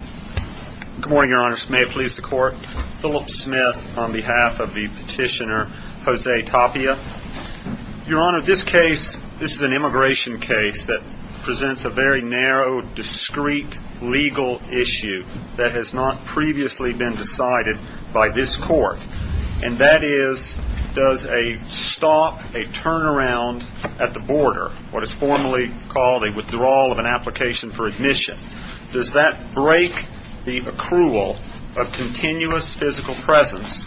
Good morning, Your Honor. May it please the Court? Philip Smith on behalf of the petitioner, Jose Tapia. Your Honor, this case, this is an immigration case that presents a very narrow, discreet legal issue that has not previously been decided by this Court. And that is, does a stop, a turnaround at the border, what is formally called a withdrawal of an application for admission, does that break the accrual of continuous physical presence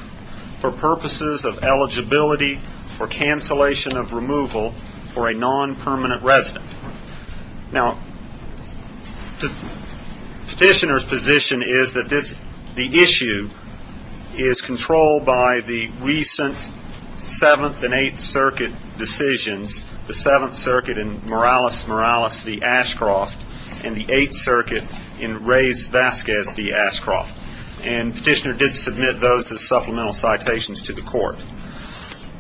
for purposes of eligibility for cancellation of removal for a non-permanent resident? Now, the petitioner's position is that the issue is controlled by the recent Seventh and Eighth Circuit decisions, the Seventh Circuit in Morales-Morales v. Ashcroft, and the Eighth Circuit in Reyes-Vasquez v. Ashcroft. And the petitioner did submit those as supplemental citations to the Court.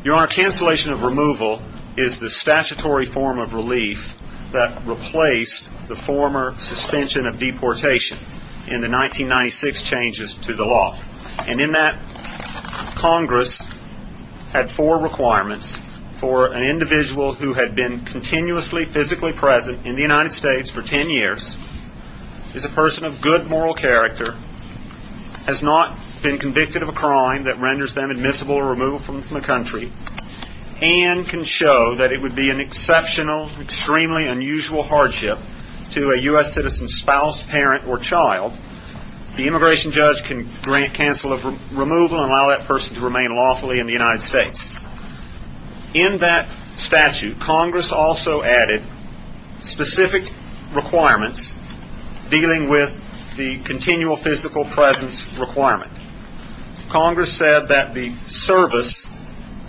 Your Honor, cancellation of removal is the statutory form of relief that replaced the former suspension of deportation in the 1996 changes to the law. And in that, Congress had four requirements for an individual who had been continuously physically present in the United States for ten years, is a person of good moral character, has not been convicted of a crime that renders them admissible removal from the country, and can show that it would be an exceptional, extremely unusual hardship to a U.S. citizen's spouse, parent, or child. The immigration judge can grant cancel of removal and allow that person to remain lawfully in the United States. In that statute, Congress also added specific requirements dealing with the continual physical presence requirement. Congress said that the service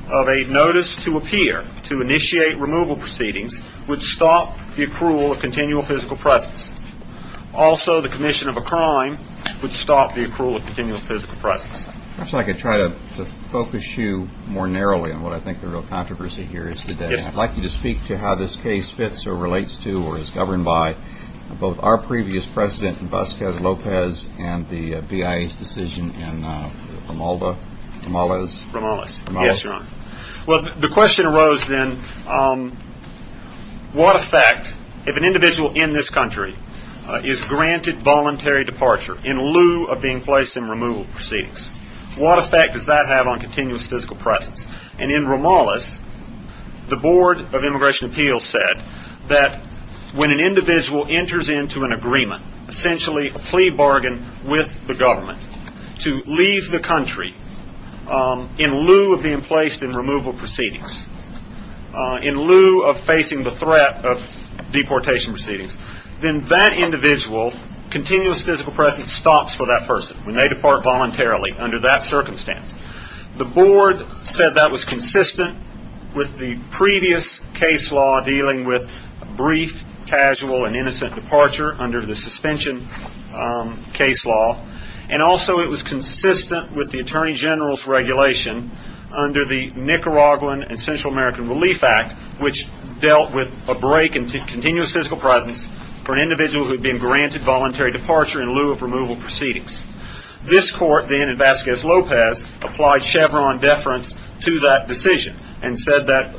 of a notice to appear to initiate removal proceedings would stop the accrual of continual physical presence. Also, the commission of a crime would stop the accrual of continual physical presence. If I could try to focus you more narrowly on what I think the real controversy here is today. I'd like you to speak to how this case fits or relates to or is governed by both our previous president, Vasquez Lopez, and the BIA's decision in Ramalda, Ramalez. Ramalez. Yes, Your Honor. Well, the question arose then, what effect, if an individual in this country is granted voluntary departure in lieu of being placed in removal proceedings, what effect does that have on continuous physical presence? And in Ramalez, the Board of Immigration Appeals said that when an individual enters into an agreement, essentially a plea bargain with the government, to leave the country in lieu of being placed in removal proceedings, in lieu of facing the threat of deportation proceedings, then that individual's continuous physical presence stops for that person when they depart voluntarily under that circumstance. The Board said that was consistent with the previous case law dealing with brief, casual, and innocent departure under the suspension case law and also it was consistent with the Attorney General's regulation under the Nicaraguan and Central American Relief Act, which dealt with a break in continuous physical presence for an individual who had been granted voluntary departure in lieu of removal proceedings. This court then, in Vasquez Lopez, applied Chevron deference to that decision and said that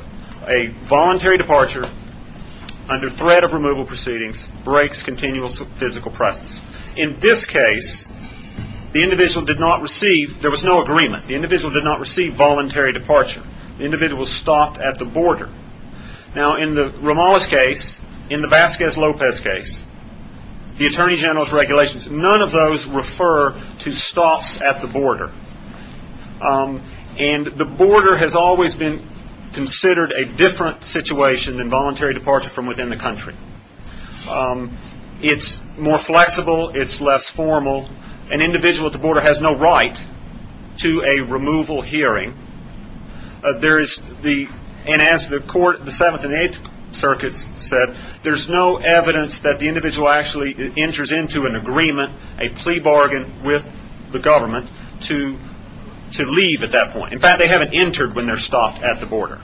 a voluntary departure under threat of removal proceedings breaks continuous physical presence. In this case, there was no agreement. The individual did not receive voluntary departure. The individual was stopped at the border. Now, in the Ramalez case, in the Vasquez Lopez case, the Attorney General's regulations, none of those refer to stops at the border. And the border has always been considered a different situation than voluntary departure from within the country. It's more flexible. It's less formal. An individual at the border has no right to a removal hearing. And as the Seventh and Eighth Circuits said, there's no evidence that the individual actually enters into an agreement, a plea bargain with the government, to leave at that point. In fact, they haven't entered when they're stopped at the border.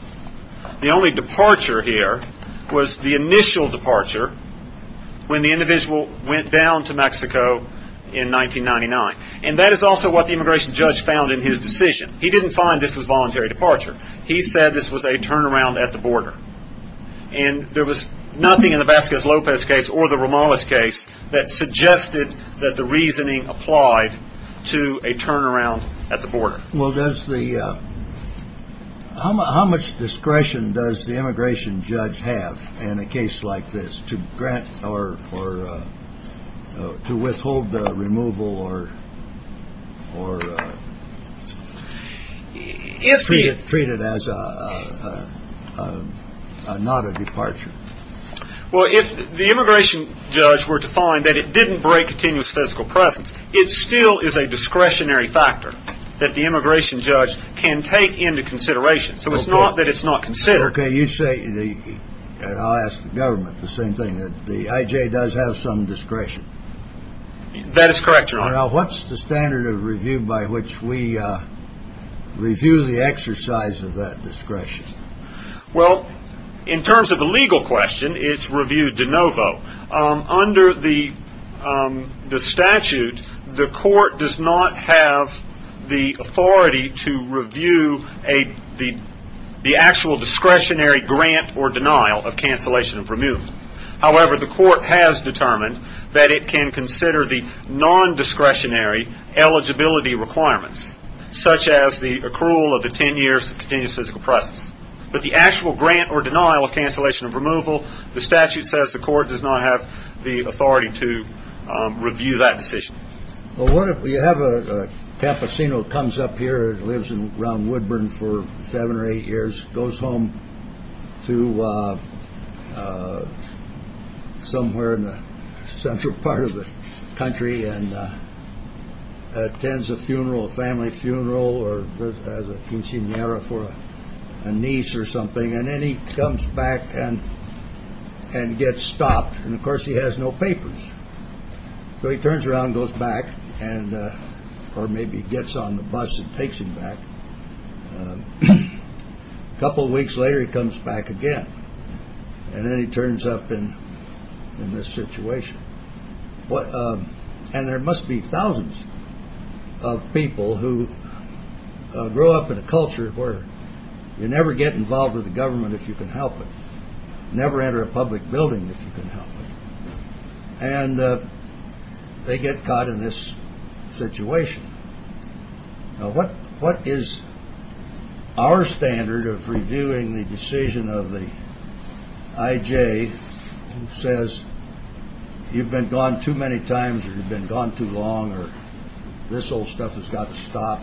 The only departure here was the initial departure when the individual went down to Mexico in 1999. And that is also what the immigration judge found in his decision. He didn't find this was voluntary departure. He said this was a turnaround at the border. And there was nothing in the Vasquez Lopez case or the Ramalez case that suggested that the reasoning applied to a turnaround at the border. Well, how much discretion does the immigration judge have in a case like this to grant or to withhold the removal or treat it as not a departure? Well, if the immigration judge were to find that it didn't break continuous physical presence, it still is a discretionary factor that the immigration judge can take into consideration. So it's not that it's not considered. Okay, you say, and I'll ask the government the same thing, that the IJ does have some discretion. That is correct, Your Honor. Now, what's the standard of review by which we review the exercise of that discretion? Well, in terms of the legal question, it's reviewed de novo. Under the statute, the court does not have the authority to review the actual discretionary grant or denial of cancellation of removal. However, the court has determined that it can consider the nondiscretionary eligibility requirements, such as the accrual of the ten years of continuous physical presence. But the actual grant or denial of cancellation of removal, the statute says the court does not have the authority to review that decision. Well, what if we have a campesino comes up here, lives around Woodburn for seven or eight years, goes home to somewhere in the central part of the country, and attends a funeral, a family funeral, or has a quinceañera for a niece or something, and then he comes back and gets stopped. And, of course, he has no papers. So he turns around and goes back, or maybe gets on the bus and takes him back. A couple of weeks later, he comes back again. And then he turns up in this situation. And there must be thousands of people who grow up in a culture where you never get involved with the government if you can help it, never enter a public building if you can help it. And they get caught in this situation. Now, what is our standard of reviewing the decision of the I.J. who says, you've been gone too many times, or you've been gone too long, or this old stuff has got to stop,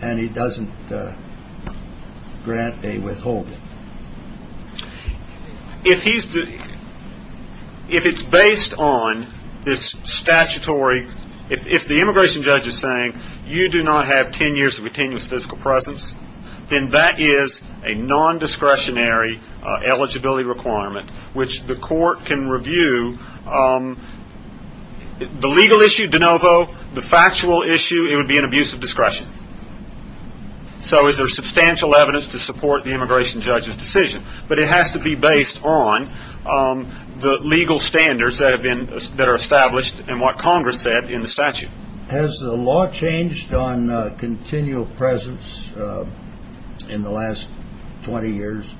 and he doesn't grant a withholding? If it's based on this statutory, if the immigration judge is saying you do not have 10 years of continuous physical presence, then that is a nondiscretionary eligibility requirement, which the court can review. The legal issue, de novo. So is there substantial evidence to support the immigration judge's decision? But it has to be based on the legal standards that are established and what Congress said in the statute. Has the law changed on continual presence in the last 20 years?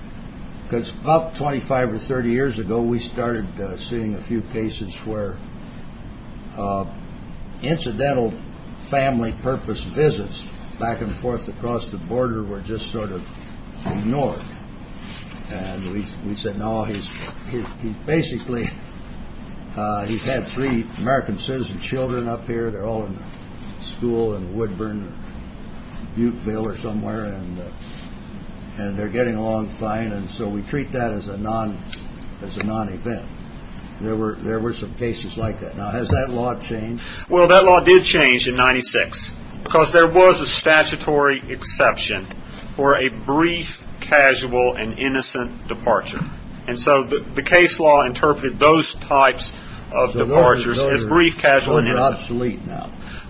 Because about 25 or 30 years ago, we started seeing a few cases where incidental family purpose visits back and forth across the border were just sort of ignored. And we said, no, he's basically, he's had three American citizen children up here. They're all in school in Woodburn, Butteville or somewhere, and they're getting along fine. And so we treat that as a non-event. There were some cases like that. Now, has that law changed? Well, that law did change in 1996, because there was a statutory exception for a brief, casual, and innocent departure. And so the case law interpreted those types of departures as brief, casual, and innocent.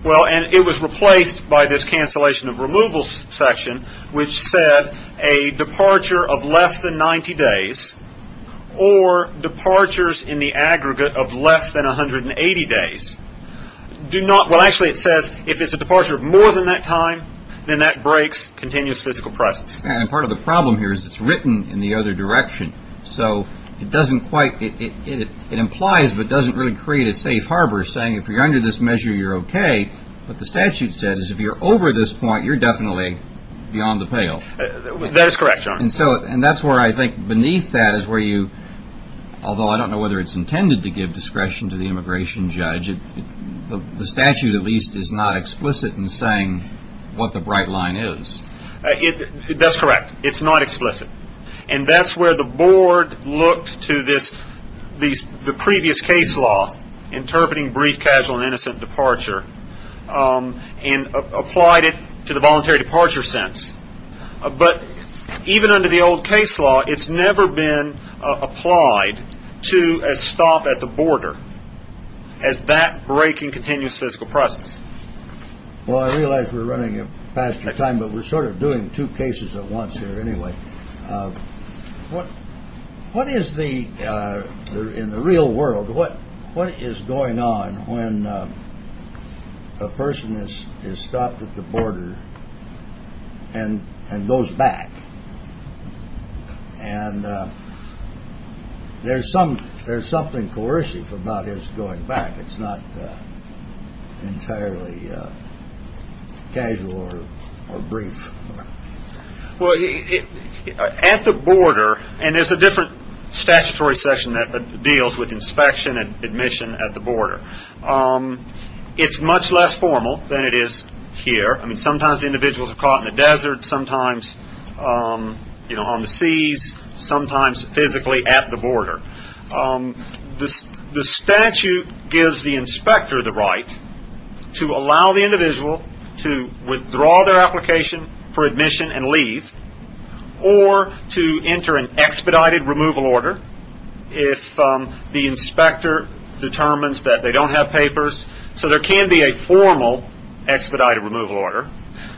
Well, and it was replaced by this cancellation of removal section, which said a departure of less than 90 days or departures in the aggregate of less than 180 days do not. Well, actually, it says if it's a departure of more than that time, then that breaks continuous physical presence. And part of the problem here is it's written in the other direction. So it doesn't quite it. It implies but doesn't really create a safe harbor saying if you're under this measure, you're OK. What the statute said is if you're over this point, you're definitely beyond the pale. That is correct. And so and that's where I think beneath that is where you although I don't know whether it's intended to give discretion to the immigration judge, the statute at least is not explicit in saying what the bright line is. That's correct. It's not explicit. And that's where the board looked to this. These the previous case law interpreting brief, casual and innocent departure and applied it to the voluntary departure sense. But even under the old case law, it's never been applied to a stop at the border. As that breaking continuous physical process. Well, I realize we're running past the time, but we're sort of doing two cases at once here anyway. What what is the in the real world? What what is going on when a person is stopped at the border and and goes back? And there's some there's something coercive about his going back. It's not entirely casual or brief. Well, at the border. And there's a different statutory section that deals with inspection and admission at the border. It's much less formal than it is here. I mean, sometimes individuals are caught in the desert, sometimes on the seas, sometimes physically at the border. The statute gives the inspector the right to allow the individual to withdraw their application for admission and leave. Or to enter an expedited removal order if the inspector determines that they don't have papers. So there can be a formal expedited removal order.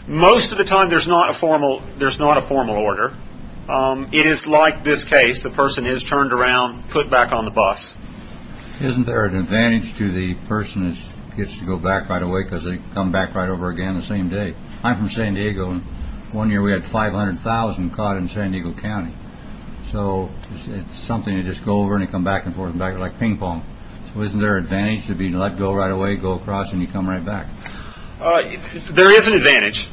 Most of the time, there's not a formal there's not a formal order. It is like this case. The person is turned around, put back on the bus. Isn't there an advantage to the person who gets to go back right away because they come back right over again the same day? I'm from San Diego. One year we had five hundred thousand caught in San Diego County. So it's something to just go over and come back and forth like ping pong. So isn't there an advantage to be let go right away? Go across and you come right back. There is an advantage.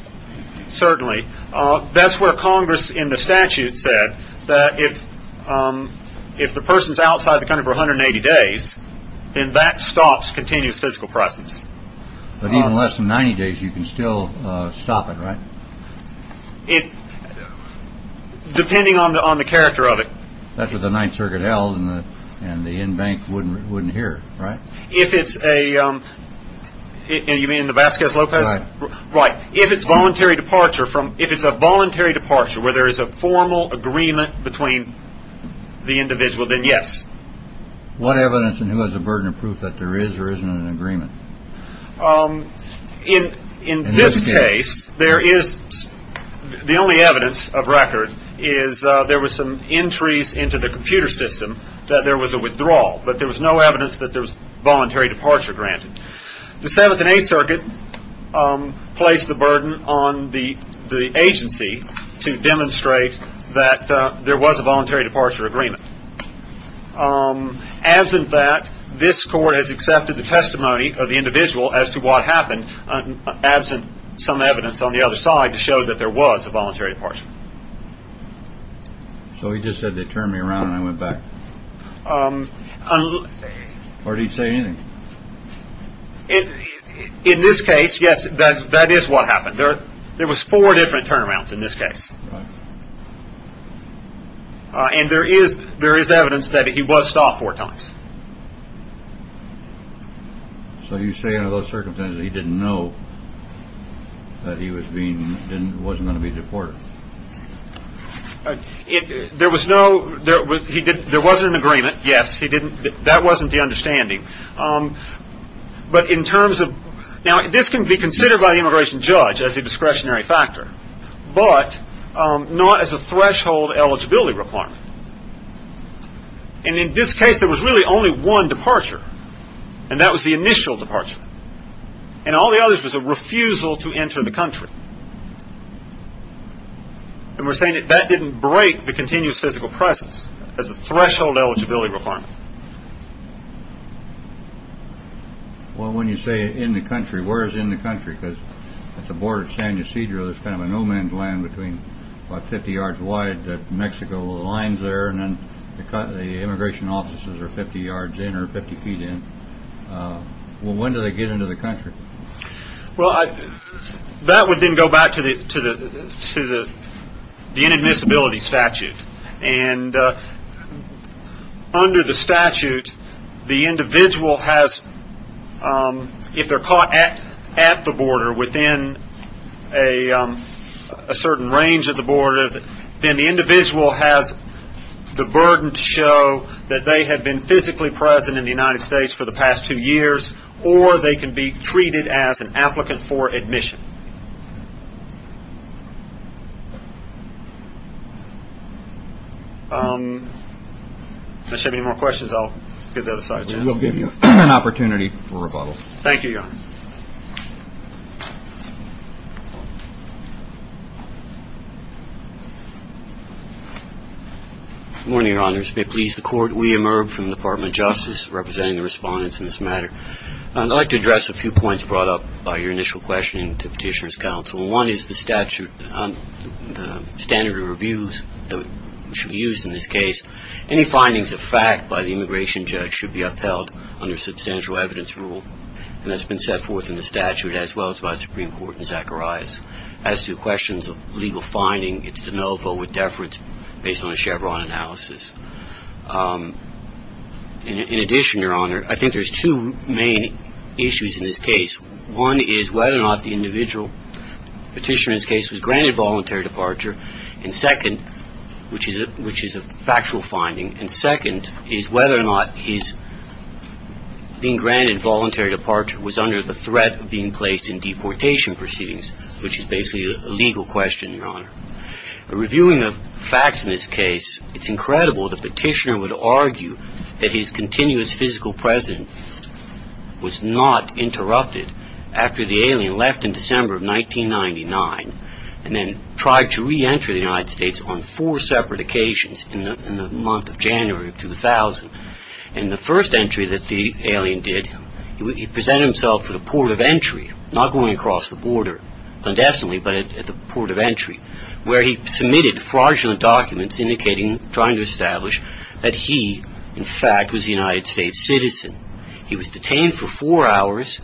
Certainly. That's where Congress in the statute said that if if the person's outside the country for 180 days, then that stops continuous physical process. But even less than 90 days, you can still stop it. It depending on the on the character of it. That's what the Ninth Circuit held. And the end bank wouldn't wouldn't hear. Right. If it's a you mean the Vasquez Lopez. Right. If it's voluntary departure from if it's a voluntary departure where there is a formal agreement between the individual, then yes. What evidence and who has a burden of proof that there is or isn't an agreement in this case? There is the only evidence of record is there was some entries into the computer system that there was a withdrawal, but there was no evidence that there was voluntary departure granted. The Seventh and Eighth Circuit placed the burden on the agency to demonstrate that there was a voluntary departure agreement. Absent that, this court has accepted the testimony of the individual as to what happened. Absent some evidence on the other side to show that there was a voluntary departure. So he just said they turned me around and I went back. Or did he say anything? In this case, yes, that that is what happened there. There was four different turnarounds in this case. Right. And there is there is evidence that he was stopped four times. So you say under those circumstances, he didn't know that he was being then wasn't going to be deported. There was no there was he did. There wasn't an agreement. Yes, he didn't. That wasn't the understanding. But in terms of now, this can be considered by the immigration judge as a discretionary factor. But not as a threshold eligibility requirement. And in this case, there was really only one departure, and that was the initial departure. And all the others was a refusal to enter the country. And we're saying that that didn't break the continuous physical presence as a threshold eligibility requirement. Well, when you say in the country, where is in the country, because at the border of San Ysidro, there's kind of a no man's land between 50 yards wide that Mexico lines there. And then the immigration offices are 50 yards in or 50 feet in. Well, when do they get into the country? Well, that would then go back to the to the to the the inadmissibility statute. And under the statute, the individual has if they're caught at at the border within a certain range of the border, then the individual has the burden to show that they have been physically present in the United States for the past two years, or they can be treated as an applicant for admission. Does have any more questions? I'll give that aside. We'll give you an opportunity for rebuttal. Thank you, Your Honor. Good morning, Your Honors. May it please the Court. William Irb from the Department of Justice representing the respondents in this matter. I'd like to address a few points brought up by your initial question to Petitioner's Counsel. One is the statute, the standard of reviews that should be used in this case. Any findings of fact by the immigration judge should be upheld under substantial evidence rule. And that's been set forth in the statute as well as by Supreme Court and Zacharias. As to questions of legal finding, it's de novo with deference based on a Chevron analysis. In addition, Your Honor, I think there's two main issues in this case. One is whether or not the individual petitioner in this case was granted voluntary departure. And second, which is a factual finding, and second is whether or not his being granted voluntary departure was under the threat of being placed in deportation proceedings, which is basically a legal question, Your Honor. Reviewing the facts in this case, it's incredible that Petitioner would argue that his continuous physical presence was not interrupted after the alien left in December of 1999 and then tried to re-enter the United States on four separate occasions in the month of January of 2000. In the first entry that the alien did, he presented himself at a port of entry, not going across the border clandestinely, but at the port of entry, where he submitted fraudulent documents trying to establish that he, in fact, was a United States citizen. He was detained for four hours,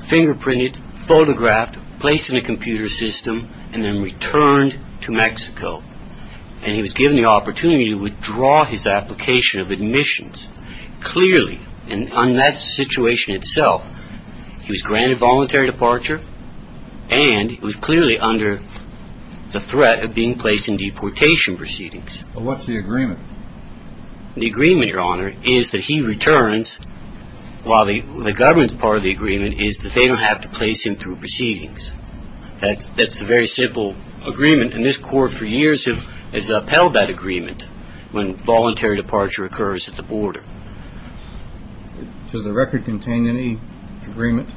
fingerprinted, photographed, placed in a computer system, and then returned to Mexico. And he was given the opportunity to withdraw his application of admissions. Clearly, in that situation itself, he was granted voluntary departure, and he was clearly under the threat of being placed in deportation proceedings. But what's the agreement? The agreement, Your Honor, is that he returns, while the government's part of the agreement is that they don't have to place him through proceedings. That's a very simple agreement. And this court for years has upheld that agreement when voluntary departure occurs at the border. Does the record contain any agreement?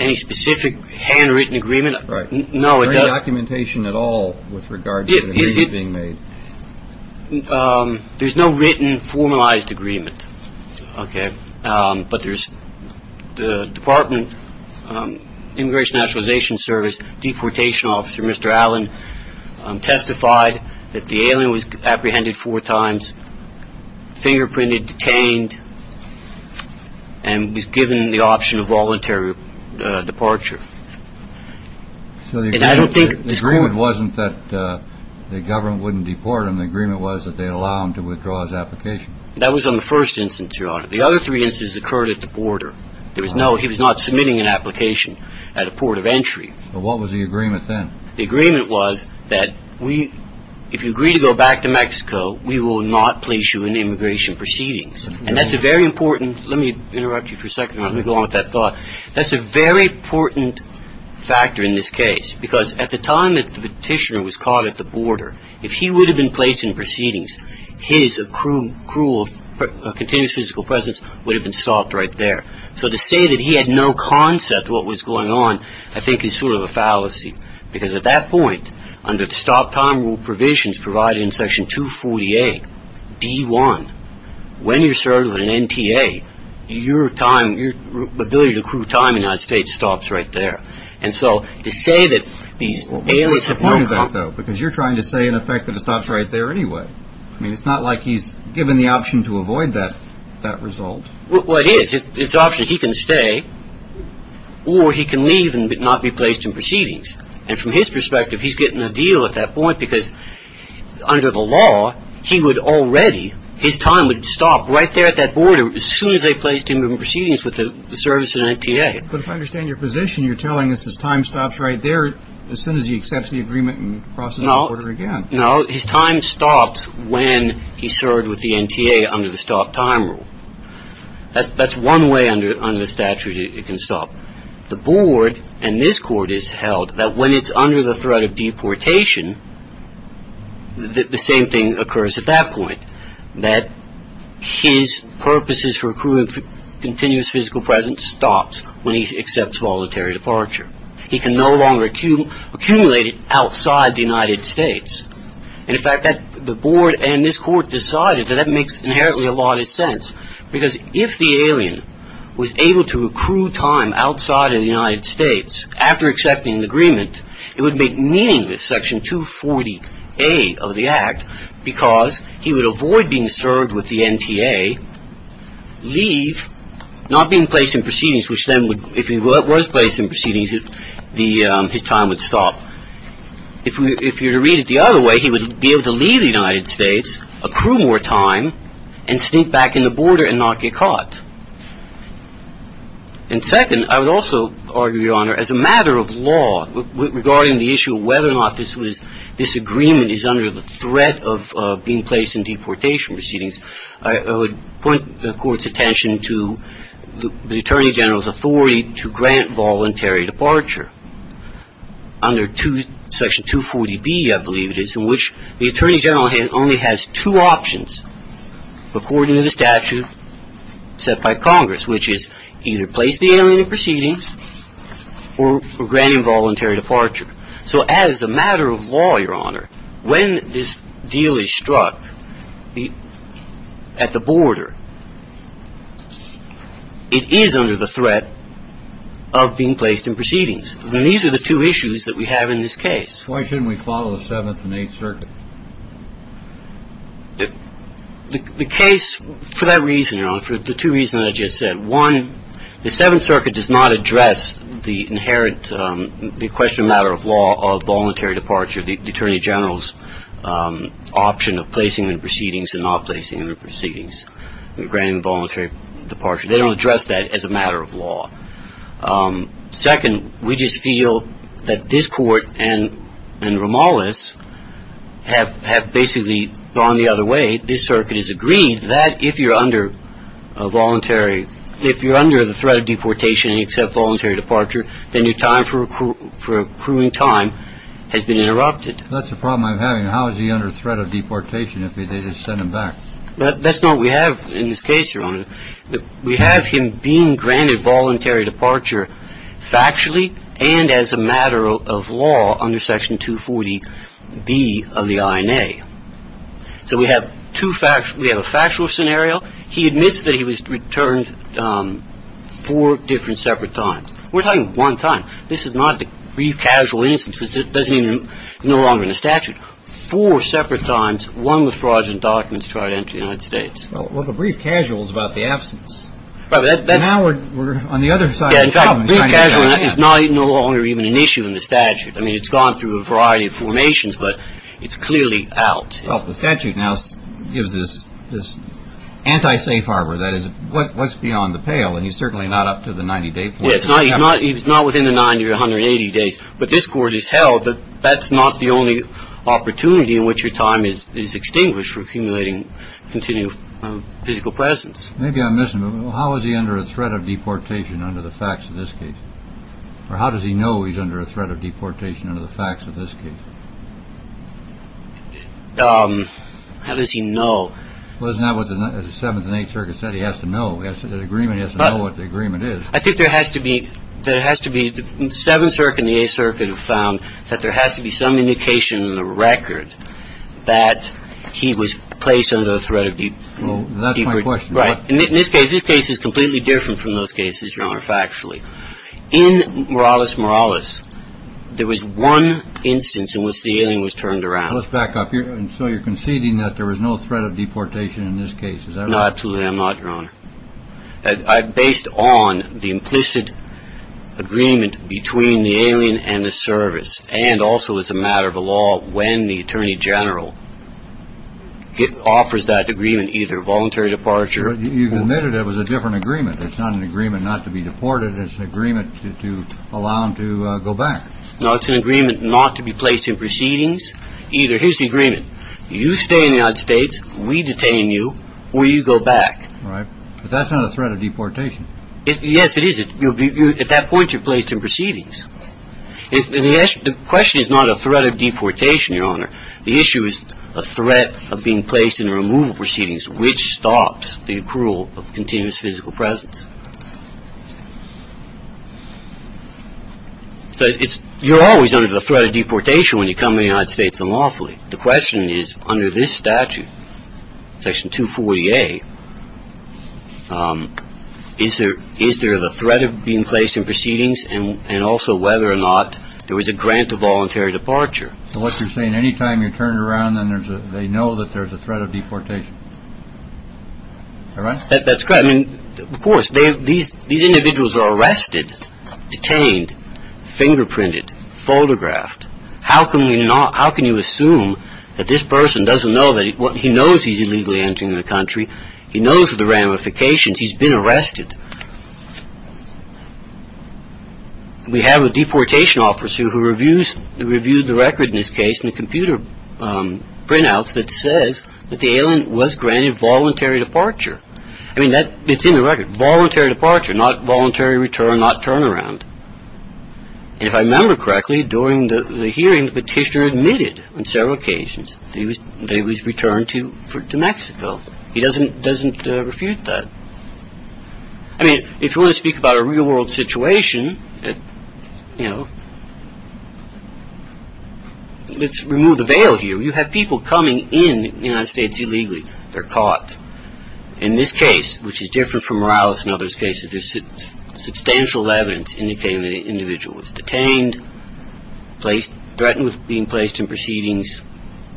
Any specific handwritten agreement? Right. No, it doesn't. Any documentation at all with regards to the agreement being made? There's no written, formalized agreement. Okay. But there's the Department Immigration Naturalization Service deportation officer, Mr. Allen, testified that the alien was apprehended four times, fingerprinted, detained, and was given the option of voluntary departure. So the agreement wasn't that the government wouldn't deport him. The agreement was that they allow him to withdraw his application. That was on the first instance, Your Honor. The other three instances occurred at the border. There was no – he was not submitting an application at a port of entry. But what was the agreement then? The agreement was that we – if you agree to go back to Mexico, we will not place you in immigration proceedings. And that's a very important – let me interrupt you for a second, Your Honor. Let me go on with that thought. That's a very important factor in this case, because at the time that the petitioner was caught at the border, if he would have been placed in proceedings, his accrual of continuous physical presence would have been stopped right there. So to say that he had no concept of what was going on I think is sort of a fallacy, because at that point, under the stop time rule provisions provided in Section 248D1, when you're served with an NTA, your time – your ability to accrue time in the United States stops right there. And so to say that these alias have no concept – But what's the point of that, though? Because you're trying to say, in effect, that it stops right there anyway. I mean, it's not like he's given the option to avoid that result. Well, it is. It's an option. He can stay, or he can leave and not be placed in proceedings. And from his perspective, he's getting a deal at that point, because under the law, he would already – his time would stop right there at that border as soon as they placed him in proceedings with the service of an NTA. But if I understand your position, you're telling us his time stops right there as soon as he accepts the agreement and crosses the border again. No. His time stops when he's served with the NTA under the stop time rule. That's one way under the statute it can stop. The Board and this Court has held that when it's under the threat of deportation, the same thing occurs at that point, that his purposes for accruing continuous physical presence stops when he accepts voluntary departure. He can no longer accumulate it outside the United States. And, in fact, the Board and this Court decided that that makes inherently a lot of sense, because if the alien was able to accrue time outside of the United States after accepting the agreement, it would make meaningless Section 240A of the Act, because he would avoid being served with the NTA, leave, not being placed in proceedings, which then would – if he was placed in proceedings, his time would stop. If you were to read it the other way, he would be able to leave the United States, accrue more time, and sneak back in the border and not get caught. And, second, I would also argue, Your Honor, as a matter of law, regarding the issue of whether or not this was – this agreement is under the threat of being placed in deportation proceedings, I would point the Court's attention to the Attorney General's authority to grant voluntary departure. Under Section 240B, I believe it is, in which the Attorney General only has two options. According to the statute set by Congress, which is either place the alien in proceedings or grant involuntary departure. So, as a matter of law, Your Honor, when this deal is struck at the border, it is under the threat of being placed in proceedings. And these are the two issues that we have in this case. Why shouldn't we follow the Seventh and Eighth Circuit? The case – for that reason, Your Honor, for the two reasons I just said. One, the Seventh Circuit does not address the inherent – the question of matter of law of voluntary departure, the Attorney General's option of placing him in proceedings and not placing him in proceedings, granting voluntary departure. They don't address that as a matter of law. Second, we just feel that this Court and Romales have basically gone the other way. This Circuit has agreed that if you're under voluntary – if you're under the threat of deportation and you accept voluntary departure, then your time for accruing time has been interrupted. That's the problem I'm having. How is he under threat of deportation if they just send him back? That's not what we have in this case, Your Honor. We have him being granted voluntary departure factually and as a matter of law under Section 240B of the INA. So we have two – we have a factual scenario. He admits that he was returned four different separate times. We're talking one time. This is not the brief casual instance. It doesn't mean he's no longer in the statute. Four separate times, one with fraudulent documents to try to enter the United States. Well, the brief casual is about the absence. Now we're on the other side of the problem. Yeah, in fact, brief casual is no longer even an issue in the statute. I mean, it's gone through a variety of formations, but it's clearly out. Well, the statute now gives this anti-safe harbor. That is, what's beyond the pale? And he's certainly not up to the 90-day point. Yeah, he's not within the 90 or 180 days. But this Court has held that that's not the only opportunity in which your time is extinguished for accumulating continued physical presence. Maybe I'm missing, but how is he under a threat of deportation under the facts of this case? Or how does he know he's under a threat of deportation under the facts of this case? How does he know? Well, isn't that what the Seventh and Eighth Circuit said? He has to know. The agreement has to know what the agreement is. I think there has to be – there has to be – that he was placed under the threat of deportation. Well, that's my question. Right. In this case, this case is completely different from those cases, Your Honor, factually. In Morales-Morales, there was one instance in which the alien was turned around. Let's back up here. And so you're conceding that there was no threat of deportation in this case. Is that right? No, absolutely not, Your Honor. Based on the implicit agreement between the alien and the service, and also as a matter of law, when the Attorney General offers that agreement, either voluntary departure – You've admitted it was a different agreement. It's not an agreement not to be deported. It's an agreement to allow him to go back. No, it's an agreement not to be placed in proceedings. Either – here's the agreement. You stay in the United States, we detain you, or you go back. Right. But that's not a threat of deportation. Yes, it is. At that point, you're placed in proceedings. The question is not a threat of deportation, Your Honor. The issue is a threat of being placed in removal proceedings, which stops the approval of continuous physical presence. You're always under the threat of deportation when you come to the United States unlawfully. The question is, under this statute, Section 240A, is there the threat of being placed in proceedings, and also whether or not there was a grant of voluntary departure? So what you're saying, any time you turn it around, then they know that there's a threat of deportation. Is that right? That's correct. I mean, of course, these individuals are arrested, detained, fingerprinted, photographed. How can you assume that this person doesn't know that – he knows he's illegally entering the country. He knows of the ramifications. He's been arrested. We have a deportation officer who reviewed the record in this case in the computer printouts that says that the alien was granted voluntary departure. I mean, it's in the record. Voluntary departure, not voluntary return, not turnaround. And if I remember correctly, during the hearing, the petitioner admitted on several occasions that he was returned to Mexico. He doesn't refute that. I mean, if you want to speak about a real-world situation, you know, let's remove the veil here. You have people coming in the United States illegally. They're caught. In this case, which is different from Morales and others' cases, there's substantial evidence indicating that an individual was detained, threatened with being placed in proceedings.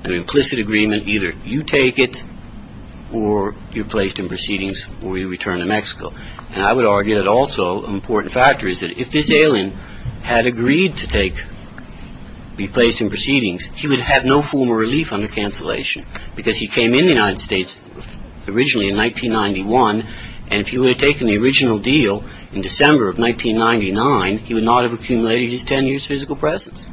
An implicit agreement, either you take it or you're placed in proceedings or you return to Mexico. And I would argue that also an important factor is that if this alien had agreed to be placed in proceedings, he would have no form of relief under cancellation because he came in the United States originally in 1991, and if he would have taken the original deal in December of 1999, he would not have accumulated his 10 years' physical presence.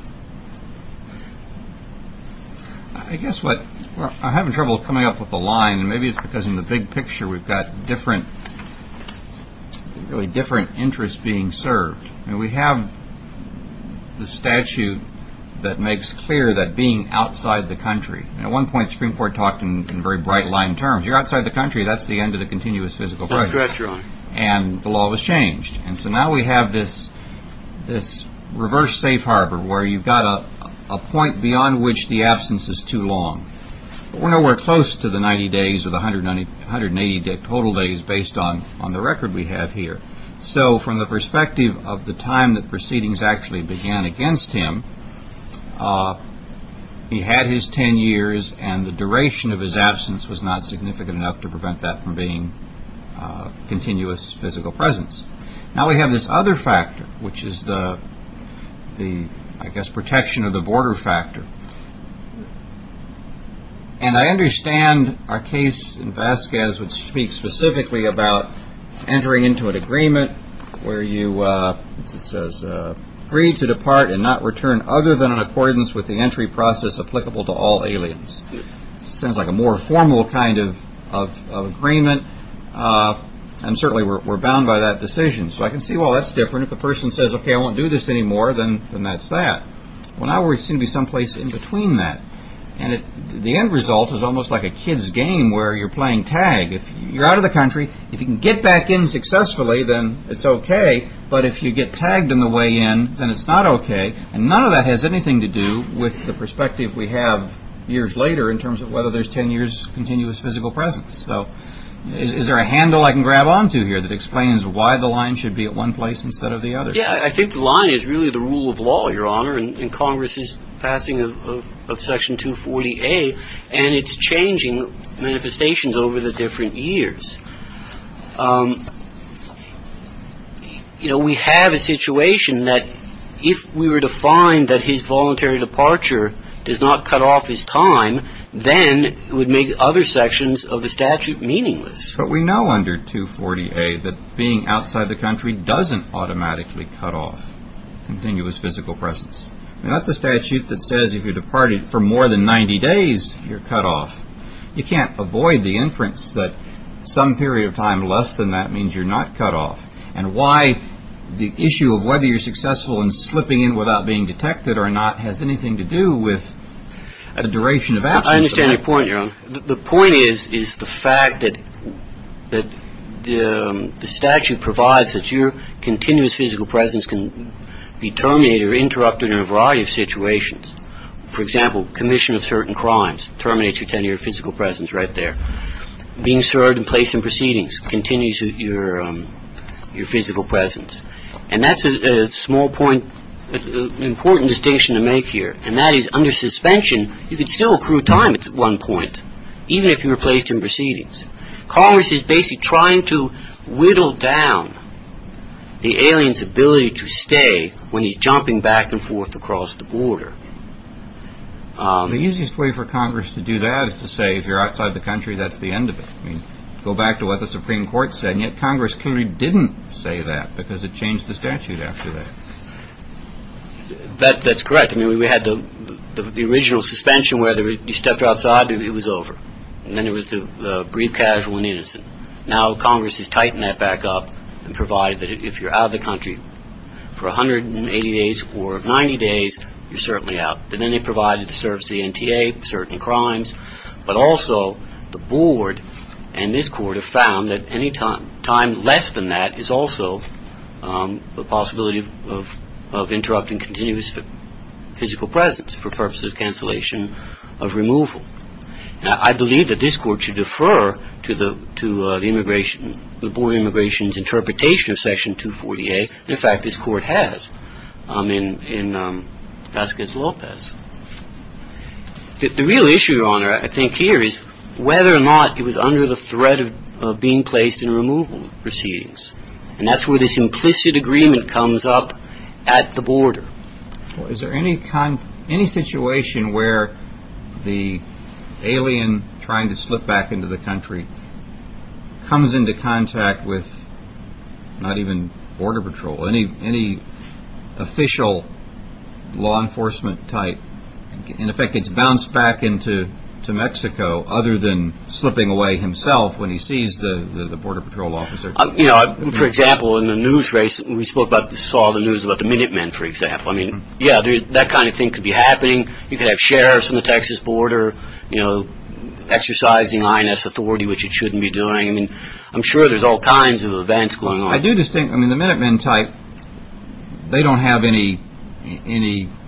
I guess what – I'm having trouble coming up with a line, and maybe it's because in the big picture we've got different – really different interests being served. I mean, we have the statute that makes clear that being outside the country – and at one point the Supreme Court talked in very bright-line terms. You're outside the country, that's the end of the continuous physical presence. That's correct, Your Honor. And the law was changed. And so now we have this reverse safe harbor where you've got a point beyond which the absence is too long. We're nowhere close to the 90 days or the 180 total days based on the record we have here. So from the perspective of the time that proceedings actually began against him, he had his 10 years, and the duration of his absence was not significant enough to prevent that from being continuous physical presence. Now we have this other factor, which is the, I guess, protection of the border factor. And I understand our case in Vasquez would speak specifically about entering into an agreement where you – it says, free to depart and not return other than in accordance with the entry process applicable to all aliens. It sounds like a more formal kind of agreement, and certainly we're bound by that decision. So I can see, well, that's different. If the person says, okay, I won't do this anymore, then that's that. Well, now we seem to be someplace in between that. And the end result is almost like a kid's game where you're playing tag. If you're out of the country, if you can get back in successfully, then it's okay. But if you get tagged on the way in, then it's not okay. And none of that has anything to do with the perspective we have years later in terms of whether there's 10 years continuous physical presence. So is there a handle I can grab onto here that explains why the line should be at one place instead of the other? Yeah, I think the line is really the rule of law, Your Honor, and Congress's passing of Section 240A, and it's changing manifestations over the different years. You know, we have a situation that if we were to find that his voluntary departure does not cut off his time, then it would make other sections of the statute meaningless. But we know under 240A that being outside the country doesn't automatically cut off continuous physical presence. That's a statute that says if you departed for more than 90 days, you're cut off. You can't avoid the inference that some period of time less than that means you're not cut off. And why the issue of whether you're successful in slipping in without being detected or not has anything to do with the duration of absence. I understand your point, Your Honor. The point is the fact that the statute provides that your continuous physical presence can be terminated or interrupted in a variety of situations. For example, commission of certain crimes terminates your 10-year physical presence right there. Being served and placed in proceedings continues your physical presence. And that's a small point, an important distinction to make here. And that is under suspension, you can still accrue time at one point, even if you're placed in proceedings. Congress is basically trying to whittle down the alien's ability to stay when he's jumping back and forth across the border. The easiest way for Congress to do that is to say if you're outside the country, that's the end of it. Go back to what the Supreme Court said, and yet Congress clearly didn't say that because it changed the statute after that. That's correct. I mean, we had the original suspension where you stepped outside, it was over. And then there was the brief, casual, and innocent. Now Congress has tightened that back up and provided that if you're out of the country for 180 days or 90 days, you're certainly out. And then they provided the service to the NTA, certain crimes. But also the board and this court have found that any time less than that is also the possibility of interrupting continuous physical presence for purposes of cancellation of removal. Now, I believe that this court should defer to the board of immigration's interpretation of Section 240A. In fact, this court has in Vasquez Lopez. The real issue, Your Honor, I think here is whether or not it was under the threat of being placed in removal proceedings. And that's where this implicit agreement comes up at the border. Well, is there any situation where the alien trying to slip back into the country comes into contact with not even border patrol, any official law enforcement type, in effect gets bounced back into Mexico other than slipping away himself when he sees the border patrol officer? You know, for example, in the news race, we saw the news about the Minutemen, for example. I mean, yeah, that kind of thing could be happening. You could have sheriffs on the Texas border, you know, exercising INS authority, which it shouldn't be doing. I mean, I'm sure there's all kinds of events going on. I do just think, I mean, the Minutemen type, they don't have any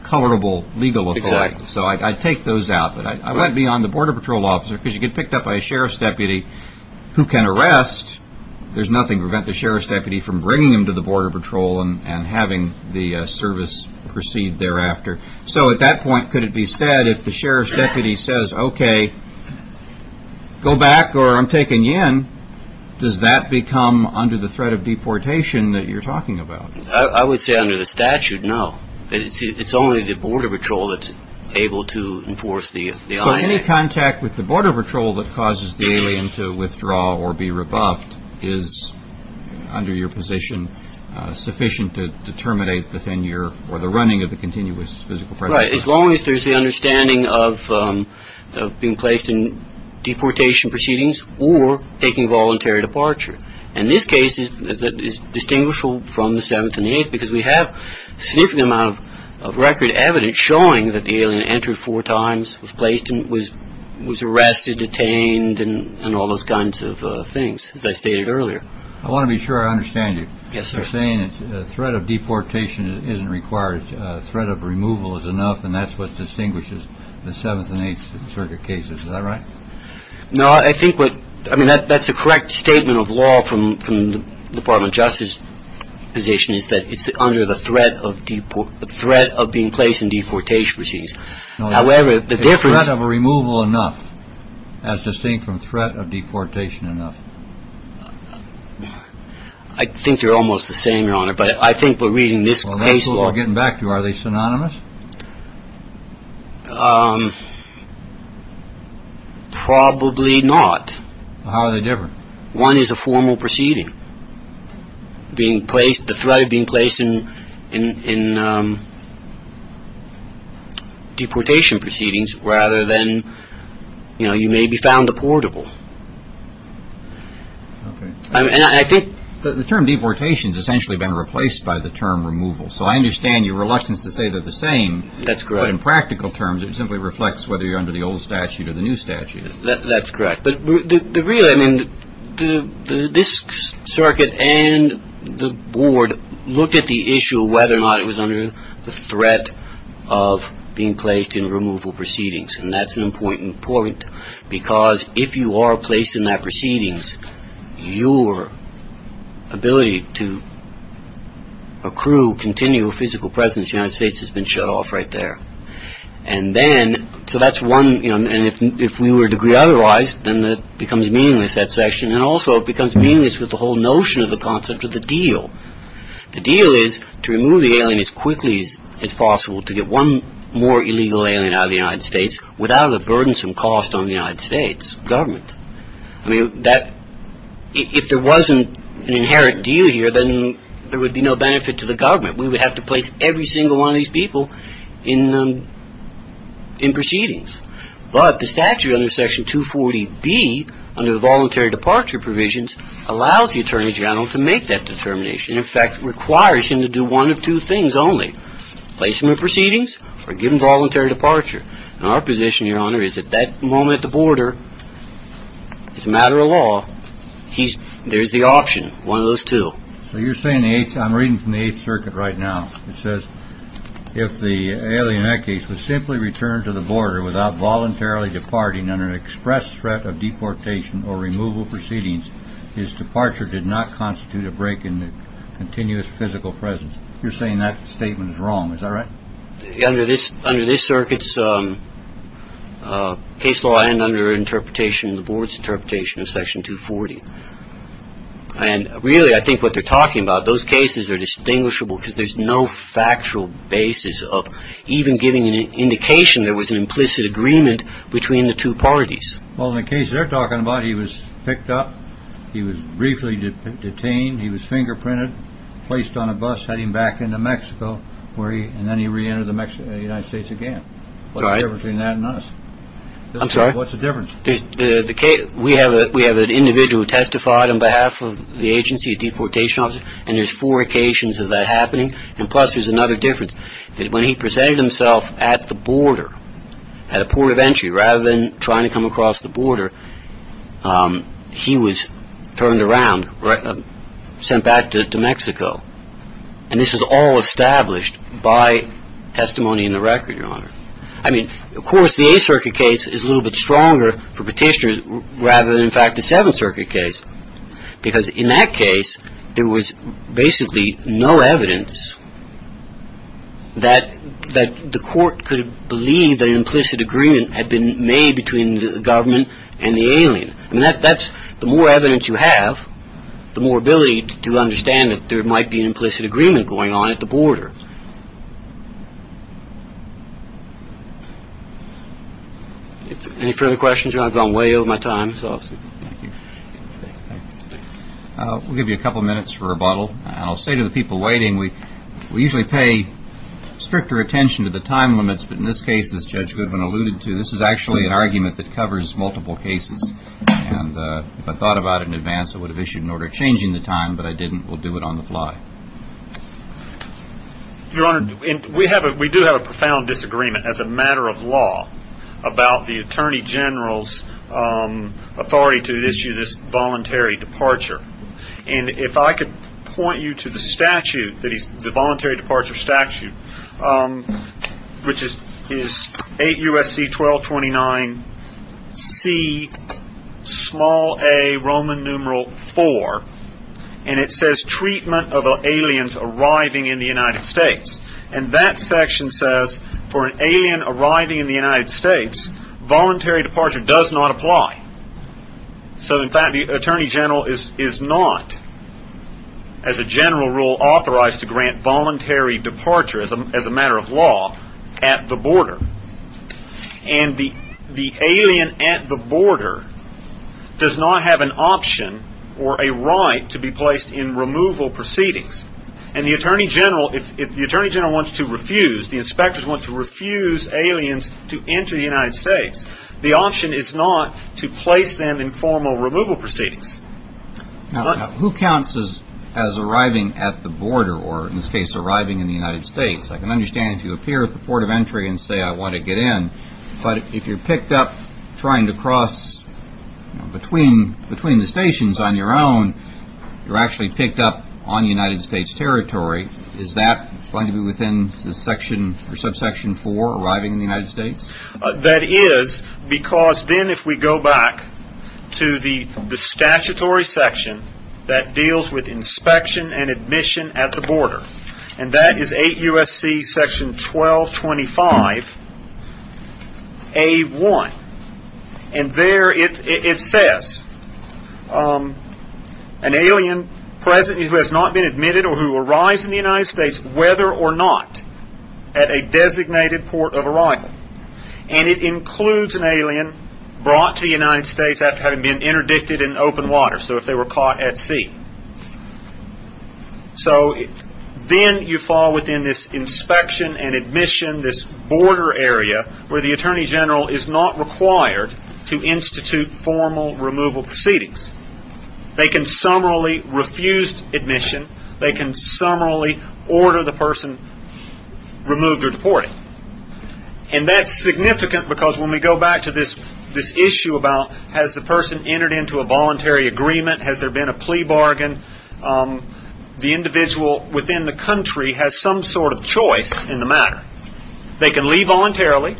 colorable legal authority. Exactly. So I take those out, but I want to be on the border patrol officer because you get picked up by a sheriff's deputy who can arrest. There's nothing to prevent the sheriff's deputy from bringing him to the border patrol and having the service proceed thereafter. So at that point, could it be said if the sheriff's deputy says, OK, go back or I'm taking you in, does that become under the threat of deportation that you're talking about? I would say under the statute, no. It's only the border patrol that's able to enforce the. Any contact with the border patrol that causes the alien to withdraw or be rebuffed is under your position sufficient to terminate the tenure or the running of the continuous physical. Right. As long as there's the understanding of being placed in deportation proceedings or taking voluntary departure. And this case is that is distinguishable from the seventh and eighth, because we have a significant amount of record evidence showing that the alien entered four times, was placed and was was arrested, detained and all those kinds of things, as I stated earlier. I want to be sure I understand you. Yes. You're saying it's a threat of deportation isn't required. It's a threat of removal is enough. And that's what distinguishes the seventh and eighth circuit cases. All right. No, I think what I mean, that that's a correct statement of law from the Department of Justice position is that it's under the threat of the threat of being placed in deportation proceedings. However, the difference of a removal enough as distinct from threat of deportation enough. I think you're almost the same, Your Honor. But I think we're reading this case. Getting back to are they synonymous? Probably not. How are they different? One is a formal proceeding being placed. The threat of being placed in deportation proceedings rather than, you know, you may be found a portable. And I think the term deportation has essentially been replaced by the term removal. So I understand your reluctance to say they're the same. That's correct. In practical terms, it simply reflects whether you're under the old statute or the new statute. That's correct. But really, I mean, this circuit and the board look at the issue of whether or not it was under the threat of being placed in removal proceedings. And that's an important point, because if you are placed in that proceedings, your ability to accrue continual physical presence in the United States has been shut off right there. And then so that's one. And if we were to agree otherwise, then that becomes meaningless, that section. And also it becomes meaningless with the whole notion of the concept of the deal. The deal is to remove the alien as quickly as possible to get one more illegal alien out of the United States without a burdensome cost on the United States government. I mean, if there wasn't an inherent deal here, then there would be no benefit to the government. We would have to place every single one of these people in proceedings. But the statute under Section 240B, under the voluntary departure provisions, allows the attorney general to make that determination. In fact, it requires him to do one of two things only, place them in proceedings or give them voluntary departure. And our position, Your Honor, is at that moment at the border, it's a matter of law. There's the option, one of those two. So you're saying I'm reading from the Eighth Circuit right now. It says if the alien in that case was simply returned to the border without voluntarily departing under an express threat of deportation or removal proceedings, his departure did not constitute a break in the continuous physical presence. You're saying that statement is wrong. Is that right? Under this under this circuit's case law and under interpretation of the board's interpretation of Section 240. And really, I think what they're talking about, those cases are distinguishable because there's no factual basis of even giving an indication there was an implicit agreement between the two parties. Well, in the case they're talking about, he was picked up. He was briefly detained. He was fingerprinted, placed on a bus heading back into Mexico, and then he reentered the United States again. What's the difference between that and us? I'm sorry? What's the difference? We have an individual who testified on behalf of the agency, a deportation officer, and there's four occasions of that happening. And plus, there's another difference, that when he presented himself at the border, at a port of entry, rather than trying to come across the border, he was turned around, sent back to Mexico. And this is all established by testimony in the record, Your Honor. I mean, of course, the Eighth Circuit case is a little bit stronger for petitioners rather than, in fact, the Seventh Circuit case. Because in that case, there was basically no evidence that the court could believe that an implicit agreement had been made between the government and the alien. I mean, that's the more evidence you have, the more ability to understand that there might be an implicit agreement going on at the border. Any further questions? I've gone way over my time. We'll give you a couple minutes for rebuttal. I'll say to the people waiting, we usually pay stricter attention to the time limits, but in this case, as Judge Goodwin alluded to, this is actually an argument that covers multiple cases. And if I thought about it in advance, I would have issued an order changing the time, but I didn't. We'll do it on the fly. Your Honor, we do have a profound disagreement as a matter of law about the Attorney General's authority to issue this voluntary departure. And if I could point you to the statute, the voluntary departure statute, which is 8 U.S.C. 1229 C small a Roman numeral 4, and it says treatment of aliens arriving in the United States. And that section says for an alien arriving in the United States, voluntary departure does not apply. So, in fact, the Attorney General is not, as a general rule, authorized to grant voluntary departure, as a matter of law, at the border. And the alien at the border does not have an option or a right to be placed in removal proceedings. And the Attorney General, if the Attorney General wants to refuse, the inspectors want to refuse aliens to enter the United States, the option is not to place them in formal removal proceedings. Now, who counts as arriving at the border or, in this case, arriving in the United States? I can understand if you appear at the port of entry and say I want to get in, but if you're picked up trying to cross between the stations on your own, you're actually picked up on United States territory. Is that going to be within the section or subsection 4, arriving in the United States? That is, because then if we go back to the statutory section that deals with inspection and admission at the border, and that is 8 U.S.C. section 1225A1, and there it says an alien present who has not been admitted or who arrives in the United States whether or not at a designated port of arrival, and it includes an alien brought to the United States after having been interdicted in open water, so if they were caught at sea. So then you fall within this inspection and admission, this border area, where the Attorney General is not required to institute formal removal proceedings. They can summarily refuse admission. They can summarily order the person removed or deported. And that's significant because when we go back to this issue about has the person entered into a voluntary agreement, has there been a plea bargain, the individual within the country has some sort of choice in the matter. They can leave voluntarily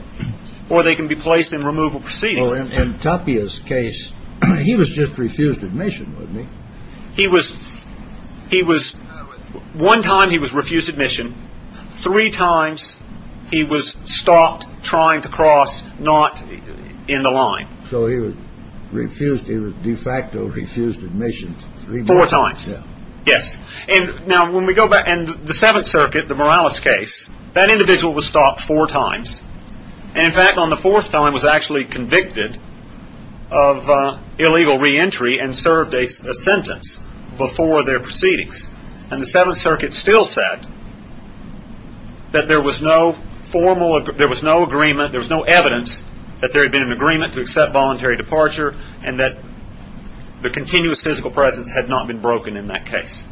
or they can be placed in removal proceedings. So in Tapia's case, he was just refused admission, wasn't he? He was. One time he was refused admission. Three times he was stopped trying to cross not in the line. So he was refused. He was de facto refused admission. Four times. Yes. And now when we go back and the Seventh Circuit, the Morales case, that individual was stopped four times. In fact, on the fourth time was actually convicted of illegal reentry and served a sentence before their proceedings. And the Seventh Circuit still said that there was no formal, there was no agreement, there was no evidence that there had been an agreement to accept voluntary departure and that the continuous physical presence had not been broken in that case.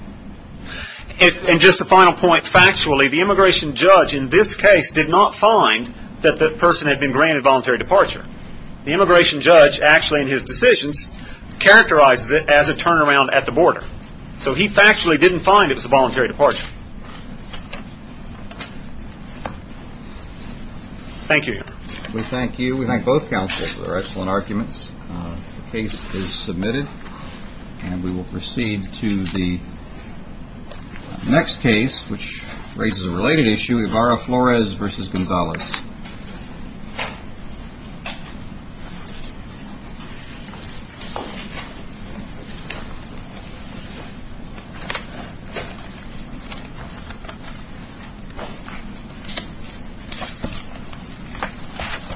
And just the final point, factually, the immigration judge in this case did not find that the person had been granted voluntary departure. The immigration judge actually in his decisions characterizes it as a turnaround at the border. So he factually didn't find it was a voluntary departure. Thank you. We thank you. We thank both counsels for their excellent arguments. The case is submitted and we will proceed to the next case, which raises a related issue. Evara Flores versus Gonzalez.